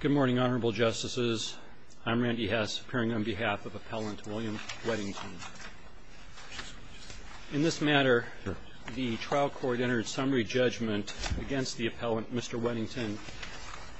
Good morning, Honorable Justices. I'm Randy Hess, appearing on behalf of Appellant William Weddington. In this matter, the trial court entered summary judgment against the appellant, Mr. Weddington,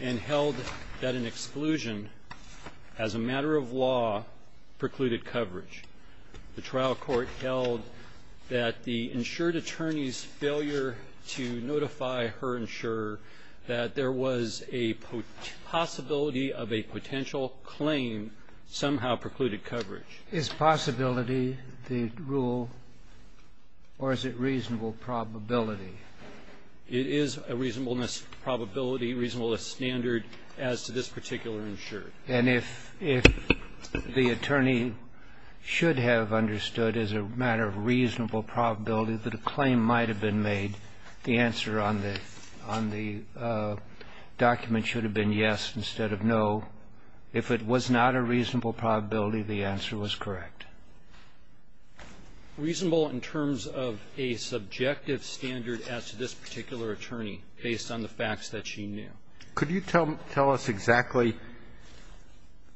and held that an exclusion as a matter of law precluded coverage. The trial court held that the insured attorney's failure to notify her insurer that there was a possibility of a potential claim somehow precluded coverage. Is possibility the rule, or is it reasonable probability? It is a reasonableness probability, reasonableness standard as to this particular And if the attorney should have understood as a matter of reasonable probability that a claim might have been made, the answer on the document should have been yes instead of no. If it was not a reasonable probability, the answer was correct. Reasonable in terms of a subjective standard as to this particular attorney, based on the facts that she knew. Could you tell us exactly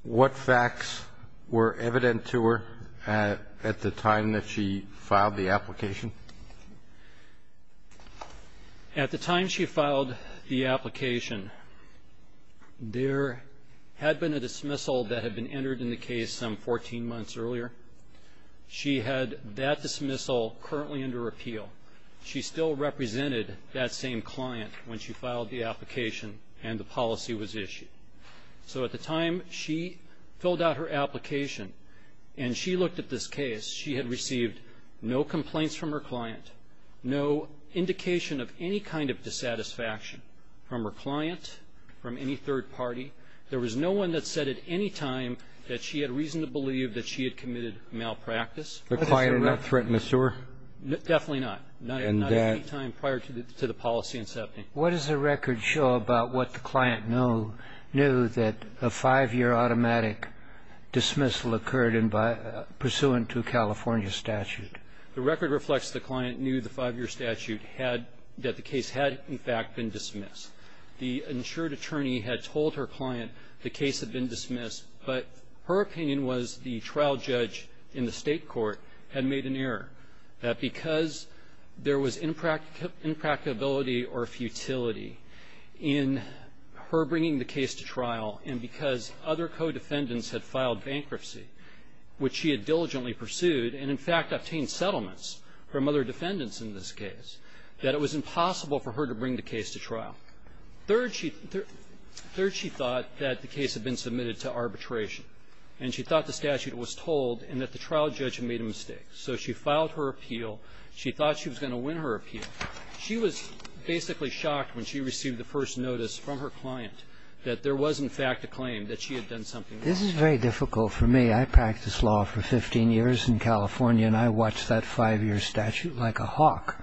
what facts were evident to her at the time that she filed the application? At the time she filed the application, there had been a dismissal that had been entered in the case some 14 months earlier. She had that dismissal currently under appeal. She still represented that same client when she filed the application and the policy was issued. So at the time she filled out her application and she looked at this case, she had received no complaints from her client, no indication of any kind of dissatisfaction from her client, from any third party. There was no one that said at any time that she had reason to believe that she had committed malpractice. The client had not threatened the insurer? Definitely not. And that — Not at any time prior to the policy incepting. What does the record show about what the client knew that a five-year automatic dismissal occurred pursuant to California statute? The record reflects the client knew the five-year statute had — that the case had, in fact, been dismissed. The insured attorney had told her client the case had been dismissed, but her opinion was the trial judge in the State court had made an error. Because there was impracticability or futility in her bringing the case to trial and because other co-defendants had filed bankruptcy, which she had diligently pursued and, in fact, obtained settlements from other defendants in this case, that it was impossible for her to bring the case to trial. Third, she thought that the case had been submitted to arbitration and she thought the statute was told and that the trial judge had made a mistake. So she filed her appeal. She thought she was going to win her appeal. She was basically shocked when she received the first notice from her client that there was, in fact, a claim that she had done something wrong. This is very difficult for me. I practiced law for 15 years in California and I watched that five-year statute like a hawk.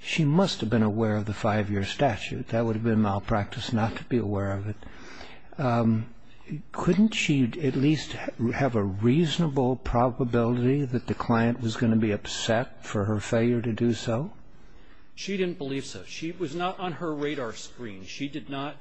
She must have been aware of the five-year statute. That would have been malpractice not to be aware of it. Could she at least have a reasonable probability that the client was going to be upset for her failure to do so? She didn't believe so. She was not on her radar screen. She did not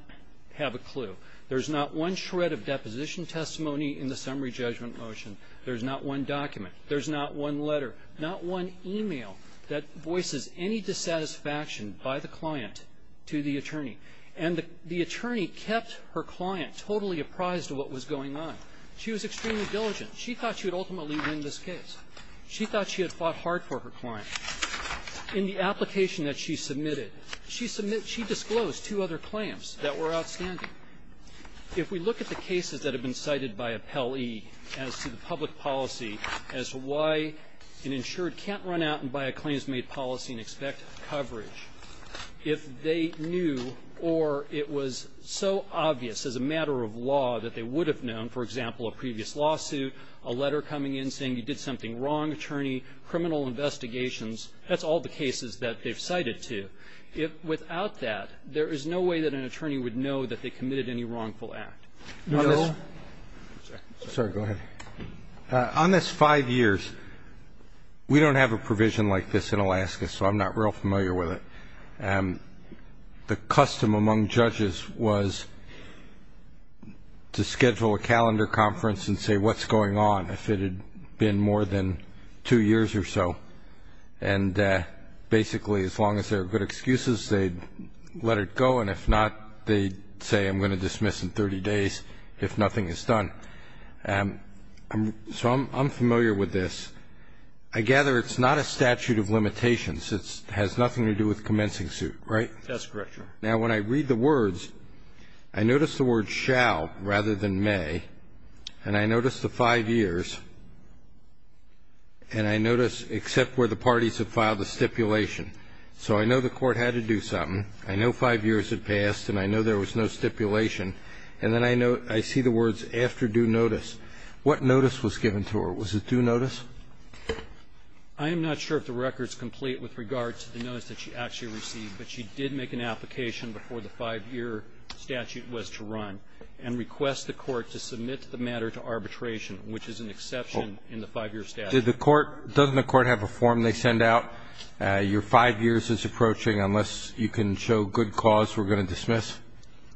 have a clue. There's not one shred of deposition testimony in the summary judgment motion. There's not one document. There's not one letter, not one email that voices any dissatisfaction by the client to the attorney. And the attorney kept her client totally apprised of what was going on. She was extremely diligent. She thought she would ultimately win this case. She thought she had fought hard for her client. In the application that she submitted, she disclosed two other claims that were outstanding. If we look at the cases that have been cited by AppellE as to the public policy, as to why an insured can't run out and buy a claims-made policy and expect coverage, if they knew or it was so obvious as a matter of law that they would have known, for example, a previous lawsuit, a letter coming in saying you did something wrong, attorney, criminal investigations. That's all the cases that they've cited, too. Without that, there is no way that an attorney would know that they committed any wrongful act. No. Sorry. Go ahead. On this five years, we don't have a provision like this in Alaska, so I'm not real familiar with it. The custom among judges was to schedule a calendar conference and say what's going on, if it had been more than two years or so. And basically, as long as there are good excuses, they'd let it go. And if not, they'd say, I'm going to dismiss in 30 days if nothing is done. So I'm familiar with this. I gather it's not a statute of limitations. It has nothing to do with commencing suit, right? That's correct, Your Honor. Now, when I read the words, I notice the word shall rather than may, and I notice the five years, and I notice except where the parties have filed a stipulation. So I know the court had to do something. I know five years had passed, and I know there was no stipulation. And then I see the words after due notice. What notice was given to her? Was it due notice? I am not sure if the record is complete with regard to the notice that she actually received, but she did make an application before the five-year statute was to run and request the court to submit the matter to arbitration, which is an exception in the five-year statute. Did the court – doesn't the court have a form they send out, your five years is approaching, unless you can show good cause, we're going to dismiss?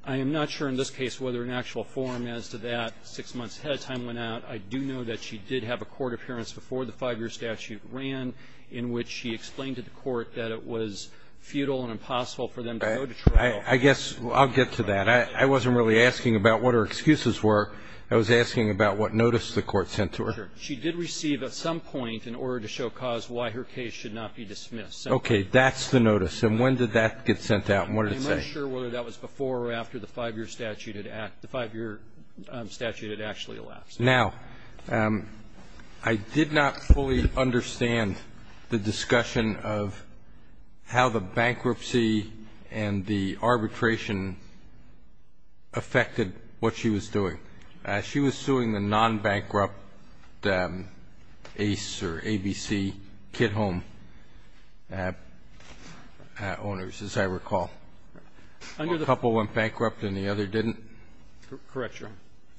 I am not sure in this case whether an actual form as to that six months ahead of time went out. I do know that she did have a court appearance before the five-year statute ran in which she explained to the court that it was futile and impossible for them to go to trial. I guess I'll get to that. I wasn't really asking about what her excuses were. I was asking about what notice the court sent to her. She did receive at some point in order to show cause why her case should not be dismissed. Okay. That's the notice. And when did that get sent out, and what did it say? I'm not sure whether that was before or after the five-year statute had – the five-year statute had actually elapsed. Now, I did not fully understand the discussion of how the bankruptcy and the arbitration affected what she was doing. She was suing the non-bankrupt Ace or ABC kid home owners, as I recall. The couple went bankrupt and the other didn't? Correct, Your Honor.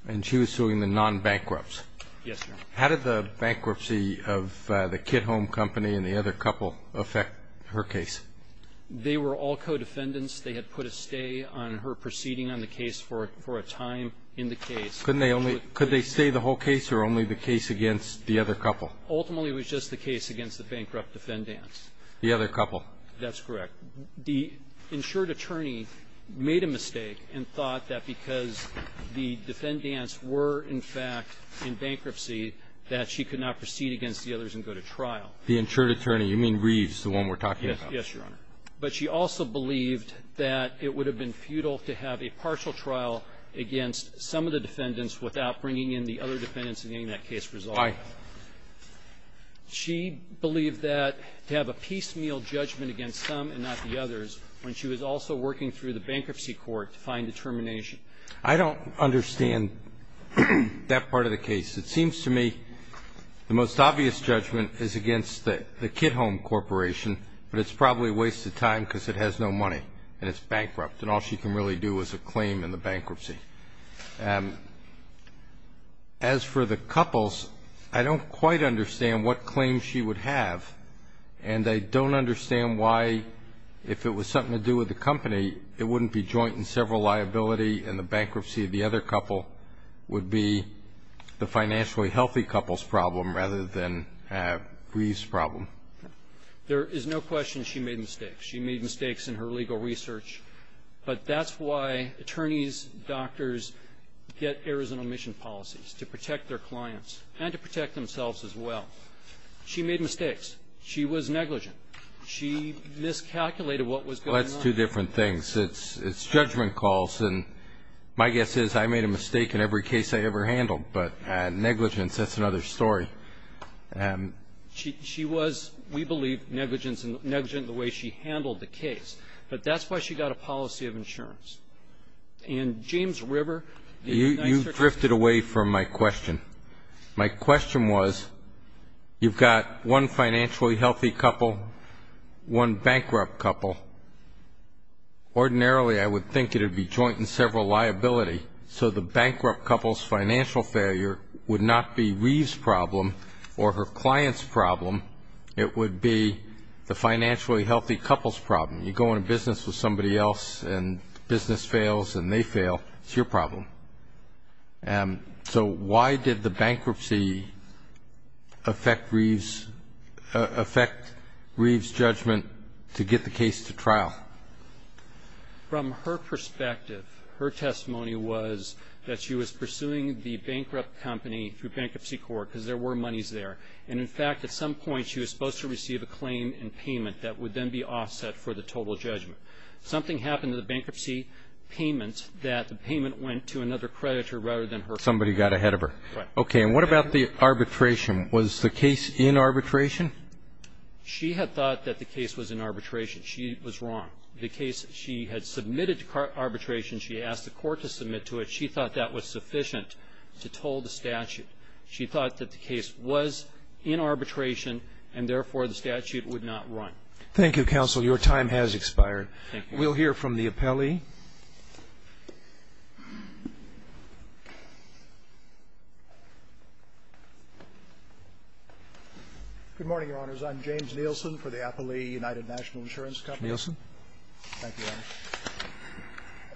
And she was suing the non-bankrupts? Yes, Your Honor. How did the bankruptcy of the kid home company and the other couple affect her case? They were all co-defendants. They had put a stay on her proceeding on the case for a time in the case. Couldn't they only – could they stay the whole case or only the case against the other couple? Ultimately, it was just the case against the bankrupt defendants. The other couple? That's correct. The insured attorney made a mistake and thought that because the defendants were, in fact, in bankruptcy, that she could not proceed against the others and go to trial. The insured attorney? You mean Reeves, the one we're talking about? Yes, Your Honor. But she also believed that it would have been futile to have a partial trial against some of the defendants without bringing in the other defendants and getting that case resolved. Aye. She believed that to have a piecemeal judgment against some and not the others when she was also working through the bankruptcy court to find a termination. I don't understand that part of the case. It seems to me the most obvious judgment is against the kid home corporation, but it's probably a waste of time because it has no money and it's bankrupt, and all she can really do is a claim in the bankruptcy. As for the couples, I don't quite understand what claim she would have, and I don't understand why, if it was something to do with the company, it wouldn't be joint and several liability and the bankruptcy of the other couple would be the financially healthy couple's problem rather than Reeves' problem. There is no question she made mistakes. She made mistakes in her legal research. But that's why attorneys, doctors get errors and omission policies, to protect their clients and to protect themselves as well. She made mistakes. She was negligent. She miscalculated what was going on. Well, that's two different things. It's judgment calls, and my guess is I made a mistake in every case I ever handled, but negligence, that's another story. She was, we believe, negligent in the way she handled the case. But that's why she got a policy of insurance. And James River, the United States Attorney General… You drifted away from my question. My question was, you've got one financially healthy couple, one bankrupt couple. Ordinarily, I would think it would be joint and several liability. So the bankrupt couple's financial failure would not be Reeves' problem or her client's problem, it would be the financially healthy couple's problem. You go into business with somebody else and business fails and they fail. It's your problem. So why did the bankruptcy affect Reeves' judgment to get the case to trial? From her perspective, her testimony was that she was pursuing the bankrupt company through Bankruptcy Court because there were monies there. And in fact, at some point, she was supposed to receive a claim and payment that would then be offset for the total judgment. Something happened to the bankruptcy payment that the payment went to another creditor rather than her client. Somebody got ahead of her. Right. Okay. And what about the arbitration? Was the case in arbitration? She had thought that the case was in arbitration. She was wrong. The case, she had submitted to arbitration. She asked the court to submit to it. She thought that was sufficient to toll the statute. She thought that the case was in arbitration and therefore the statute would not run. Thank you, counsel. Your time has expired. Thank you. We'll hear from the appellee. Good morning, Your Honors. I'm James Nielsen for the Appellee United National Insurance Company. Nielsen. Thank you, Your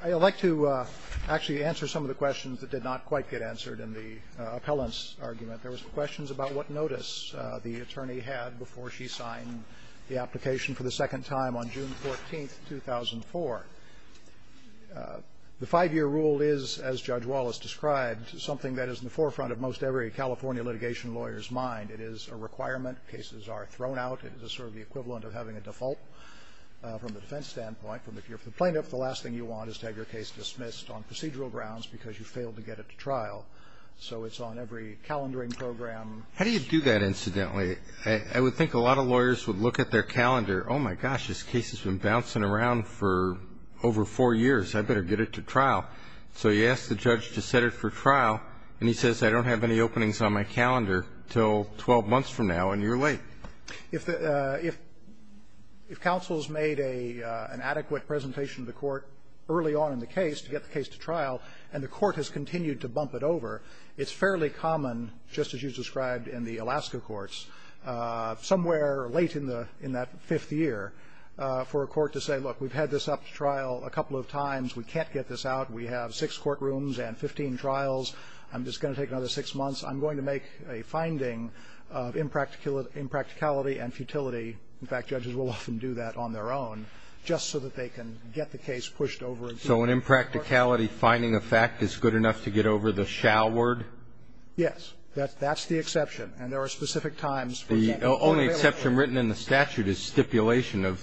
Honor. I'd like to actually answer some of the questions that did not quite get answered in the appellant's argument. There were some questions about what notice the attorney had before she signed the application for the second time on June 14, 2004. The five-year rule is, as Judge Wallace described, something that is in the forefront of most every California litigation lawyer's mind. It is a requirement. Cases are thrown out. It is sort of the equivalent of having a default from the defense standpoint. If you're a plaintiff, the last thing you want is to have your case dismissed on procedural grounds because you failed to get it to trial. So it's on every calendaring program. How do you do that, incidentally? I would think a lot of lawyers would look at their calendar, oh, my gosh, this case has been bouncing around for over four years. I'd better get it to trial. So you ask the judge to set it for trial, and he says, I don't have any openings on my calendar until 12 months from now, and you're late. If counsel has made an adequate presentation to the court early on in the case to get the case to trial, and the court has continued to bump it over, it's fairly common, just as you described in the Alaska courts, somewhere late in that fifth year for a court to say, look, we've had this up to trial a couple of times. We can't get this out. We have six courtrooms and 15 trials. I'm just going to take another six months. I'm going to make a finding of impracticality and futility. In fact, judges will often do that on their own just so that they can get the case pushed over and through. So an impracticality finding effect is good enough to get over the shall word? Yes. That's the exception. And there are specific times for example, when they will say the statute is stipulation of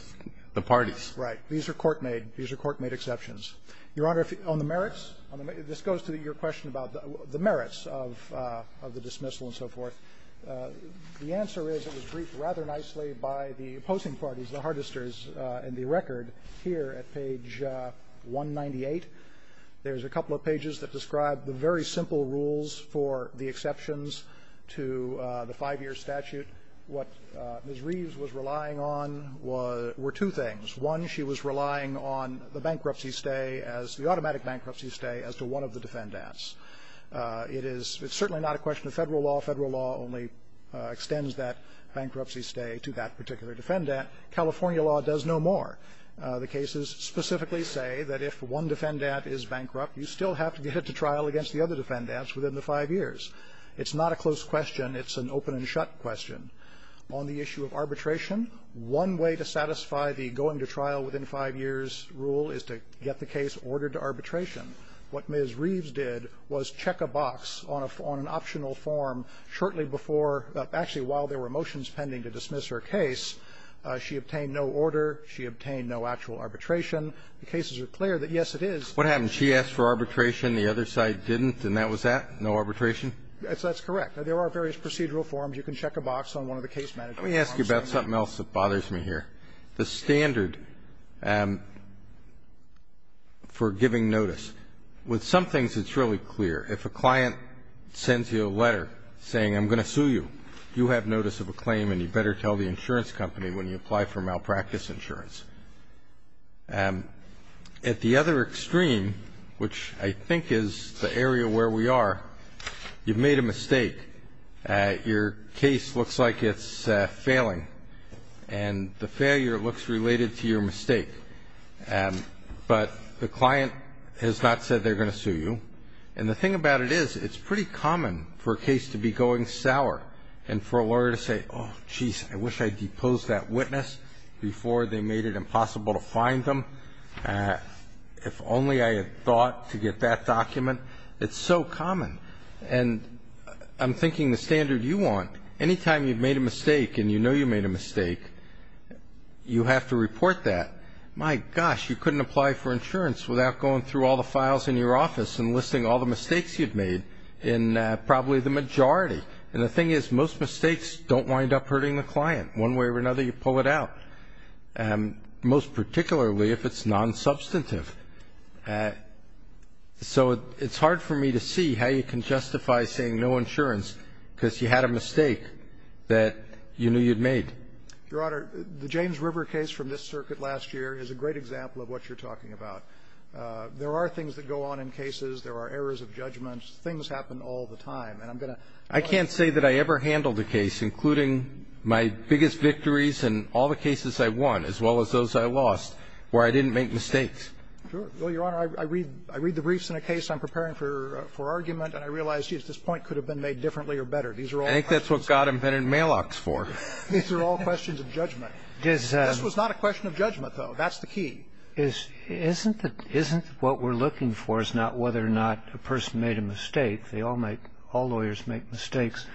the parties. Right. These are court-made. These are court-made exceptions. Your Honor, on the merits, this goes to your question about the merits of the dismissal and so forth. The answer is it was briefed rather nicely by the opposing parties, the Hardisters in the record here at page 198. There's a couple of pages that describe the very simple rules for the exceptions to the five-year statute. What Ms. Reeves was relying on were two things. One, she was relying on the bankruptcy stay as the automatic bankruptcy stay as to one of the defendants. It is certainly not a question of Federal law. Federal law only extends that bankruptcy stay to that particular defendant. California law does no more. The cases specifically say that if one defendant is bankrupt, you still have to get it to trial against the other defendants within the five years. It's not a close question. It's an open and shut question. On the issue of arbitration, one way to satisfy the going to trial within five years rule is to get the case ordered to arbitration. What Ms. Reeves did was check a box on an optional form shortly before, actually while there were motions pending to dismiss her case. She obtained no order. She obtained no actual arbitration. The cases are clear that, yes, it is. Kennedy, what happened? She asked for arbitration, the other side didn't, and that was that? No arbitration? That's correct. There are various procedural forms. You can check a box on one of the case management forms. Let me ask you about something else that bothers me here. The standard for giving notice, with some things it's really clear. If a client sends you a letter saying, I'm going to sue you, you have notice of a claim and you better tell the insurance company when you apply for malpractice insurance. At the other extreme, which I think is the area where we are, you've made a mistake. Your case looks like it's failing, and the failure looks related to your mistake. But the client has not said they're going to sue you. And the thing about it is, it's pretty common for a case to be going sour and for a lawyer to say, oh, jeez, I wish I'd deposed that witness before they made it impossible to find them. If only I had thought to get that document. It's so common. And I'm thinking the standard you want, anytime you've made a mistake and you know you've made a mistake, you have to report that. My gosh, you couldn't apply for insurance without going through all the files in your office and listing all the mistakes you've made in probably the majority. And the thing is, most mistakes don't wind up hurting the client. One way or another, you pull it out, most particularly if it's nonsubstantive. So it's hard for me to see how you can justify saying no insurance because you had a mistake that you knew you'd made. Your Honor, the James River case from this circuit last year is a great example of what you're talking about. There are things that go on in cases. There are errors of judgment. Things happen all the time. I can't say that I ever handled a case, including my biggest victories in all the cases I won as well as those I lost, where I didn't make mistakes. Sure. Well, Your Honor, I read the briefs in a case I'm preparing for argument, and I realize, geez, this point could have been made differently or better. These are all questions of judgment. I think that's what God invented Malox for. These are all questions of judgment. This was not a question of judgment, though. That's the key. Isn't what we're looking for is not whether or not a person made a mistake. All lawyers make mistakes.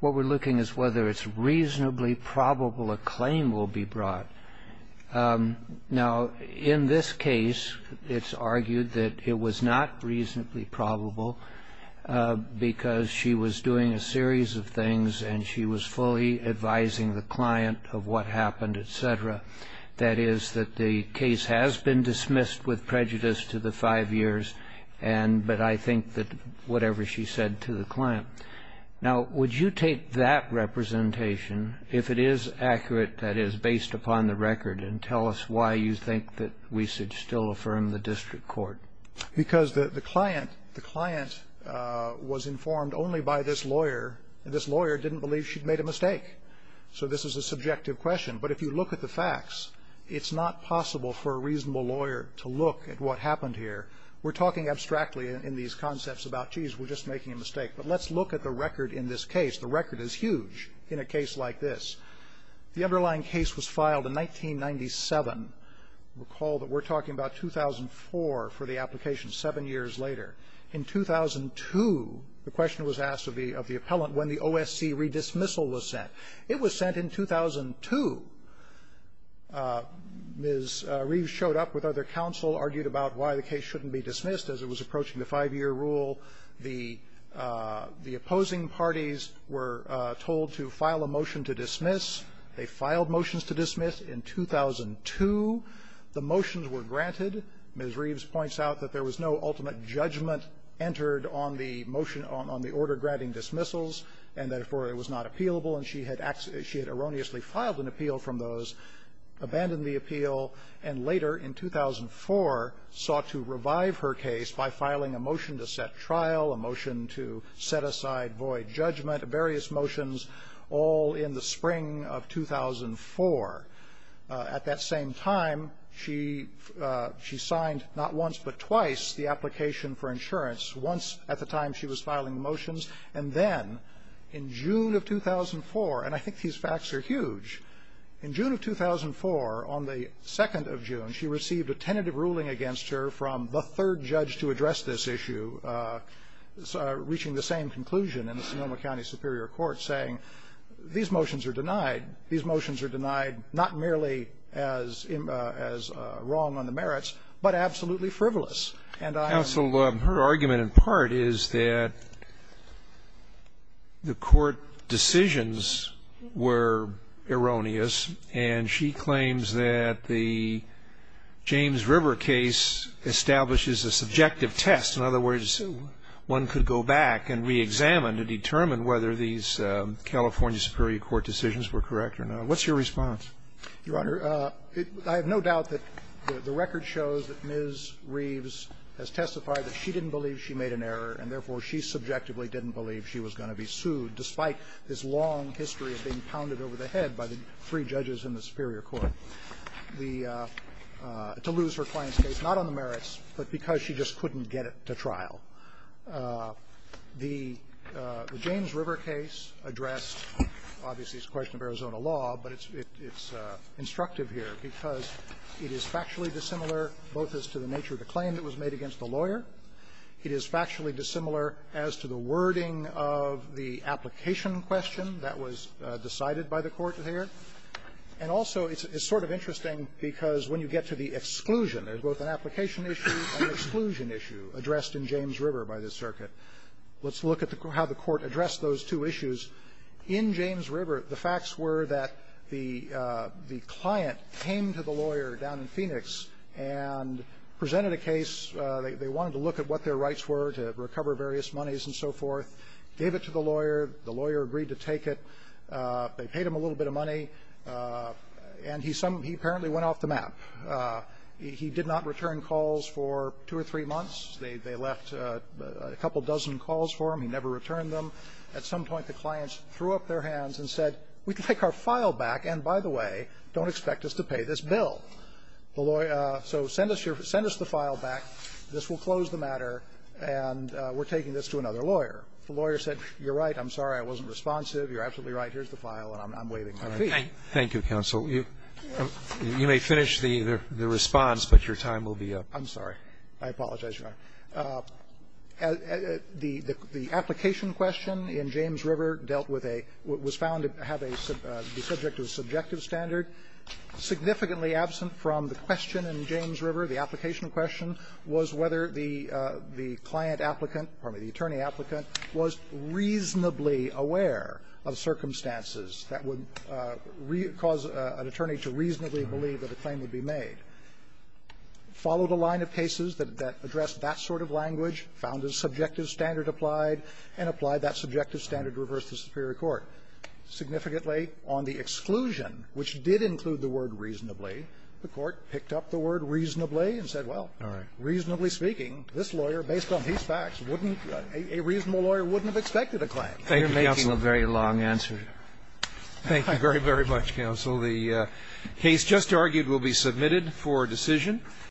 What we're looking is whether it's reasonably probable a claim will be brought. Now, in this case, it's argued that it was not reasonably probable because she was doing a series of things, and she was fully advising the client of what happened, et cetera. That is, that the case has been dismissed with prejudice to the five years, but I think that whatever she said to the client. Now, would you take that representation, if it is accurate, that is, based upon the record, and tell us why you think that we should still affirm the district court? Because the client was informed only by this lawyer, and this lawyer didn't believe she'd made a mistake. So this is a subjective question. But if you look at the facts, it's not possible for a reasonable lawyer to look at what happened here. We're talking abstractly in these concepts about, jeez, we're just making a mistake, but let's look at the record in this case. The record is huge in a case like this. The underlying case was filed in 1997. Recall that we're talking about 2004 for the application, seven years later. In 2002, the question was asked of the appellant when the OSC redismissal was sent. It was sent in 2002. Ms. Reeves showed up with other counsel, argued about why the case shouldn't be dismissed as it was approaching the five-year rule. The opposing parties were told to file a motion to dismiss. They filed motions to dismiss in 2002. The motions were granted. Ms. Reeves points out that there was no ultimate judgment entered on the motion on the order granting dismissals, and therefore, it was not appealable. And she had erroneously filed an appeal from those, abandoned the appeal, and later, in 2004, sought to revive her case by filing a motion to set trial, a motion to set aside void judgment, various motions, all in the spring of 2004. At that same time, she signed not once but twice the application for insurance, once at the time she was filing the motions. And then, in June of 2004, and I think these facts are huge, in June of 2004, on the 2nd of June, she received a tentative ruling against her from the third judge to address this issue, reaching the same conclusion in the Sonoma County Superior Court, saying these motions are denied, these motions are denied not merely as wrong on the merits, but absolutely frivolous. And I am sorry. Scalia, her argument in part is that the court decisions were erroneous, and she claims that the James River case establishes a subjective test. In other words, one could go back and reexamine to determine whether these California Superior Court decisions were correct or not. What's your response? Your Honor, I have no doubt that the record shows that Ms. Reeves has testified that she didn't believe she made an error, and therefore she subjectively didn't believe she was going to be sued, despite this long history of being pounded over the head by the three judges in the Superior Court, the to lose her client's case, not on the merits, but because she just couldn't get it to trial. The James River case addressed, obviously, it's a question of Arizona law, but it's instructive here because it is factually dissimilar both as to the nature of the claim that was made against the lawyer. It is factually dissimilar as to the wording of the application question that was decided by the court here. And also, it's sort of interesting because when you get to the exclusion, there's both an application issue and an exclusion issue addressed in James River by this circuit. Let's look at how the court addressed those two issues. In James River, the facts were that the client came to the lawyer down in Phoenix and presented a case. They wanted to look at what their rights were to recover various monies and so forth. Gave it to the lawyer. The lawyer agreed to take it. They paid him a little bit of money. And he apparently went off the map. He did not return calls for two or three months. They left a couple dozen calls for him. He never returned them. At some point, the clients threw up their hands and said, we can take our file back. And, by the way, don't expect us to pay this bill. The lawyer said, send us your file back, this will close the matter, and we're taking this to another lawyer. The lawyer said, you're right, I'm sorry, I wasn't responsive. You're absolutely right, here's the file, and I'm waving my feet. Roberts. Thank you, counsel. You may finish the response, but your time will be up. I'm sorry. I apologize, Your Honor. The application question in James River dealt with a – was found to have a – be subject to a subjective standard. Significantly absent from the question in James River, the application question was whether the client applicant – pardon me, the attorney applicant was reasonably aware of circumstances that would cause an attorney to reasonably believe that a claim would be made. Followed a line of cases that addressed that sort of language, found a subjective standard applied, and applied that subjective standard to reverse the superior court. Significantly on the exclusion, which did include the word reasonably, the Court picked up the word reasonably and said, well, reasonably speaking, this lawyer, based on these facts, wouldn't – a reasonable lawyer wouldn't have expected a claim. Thank you, counsel. You're making a very long answer. Thank you very, very much, counsel. The case just argued will be submitted for decision.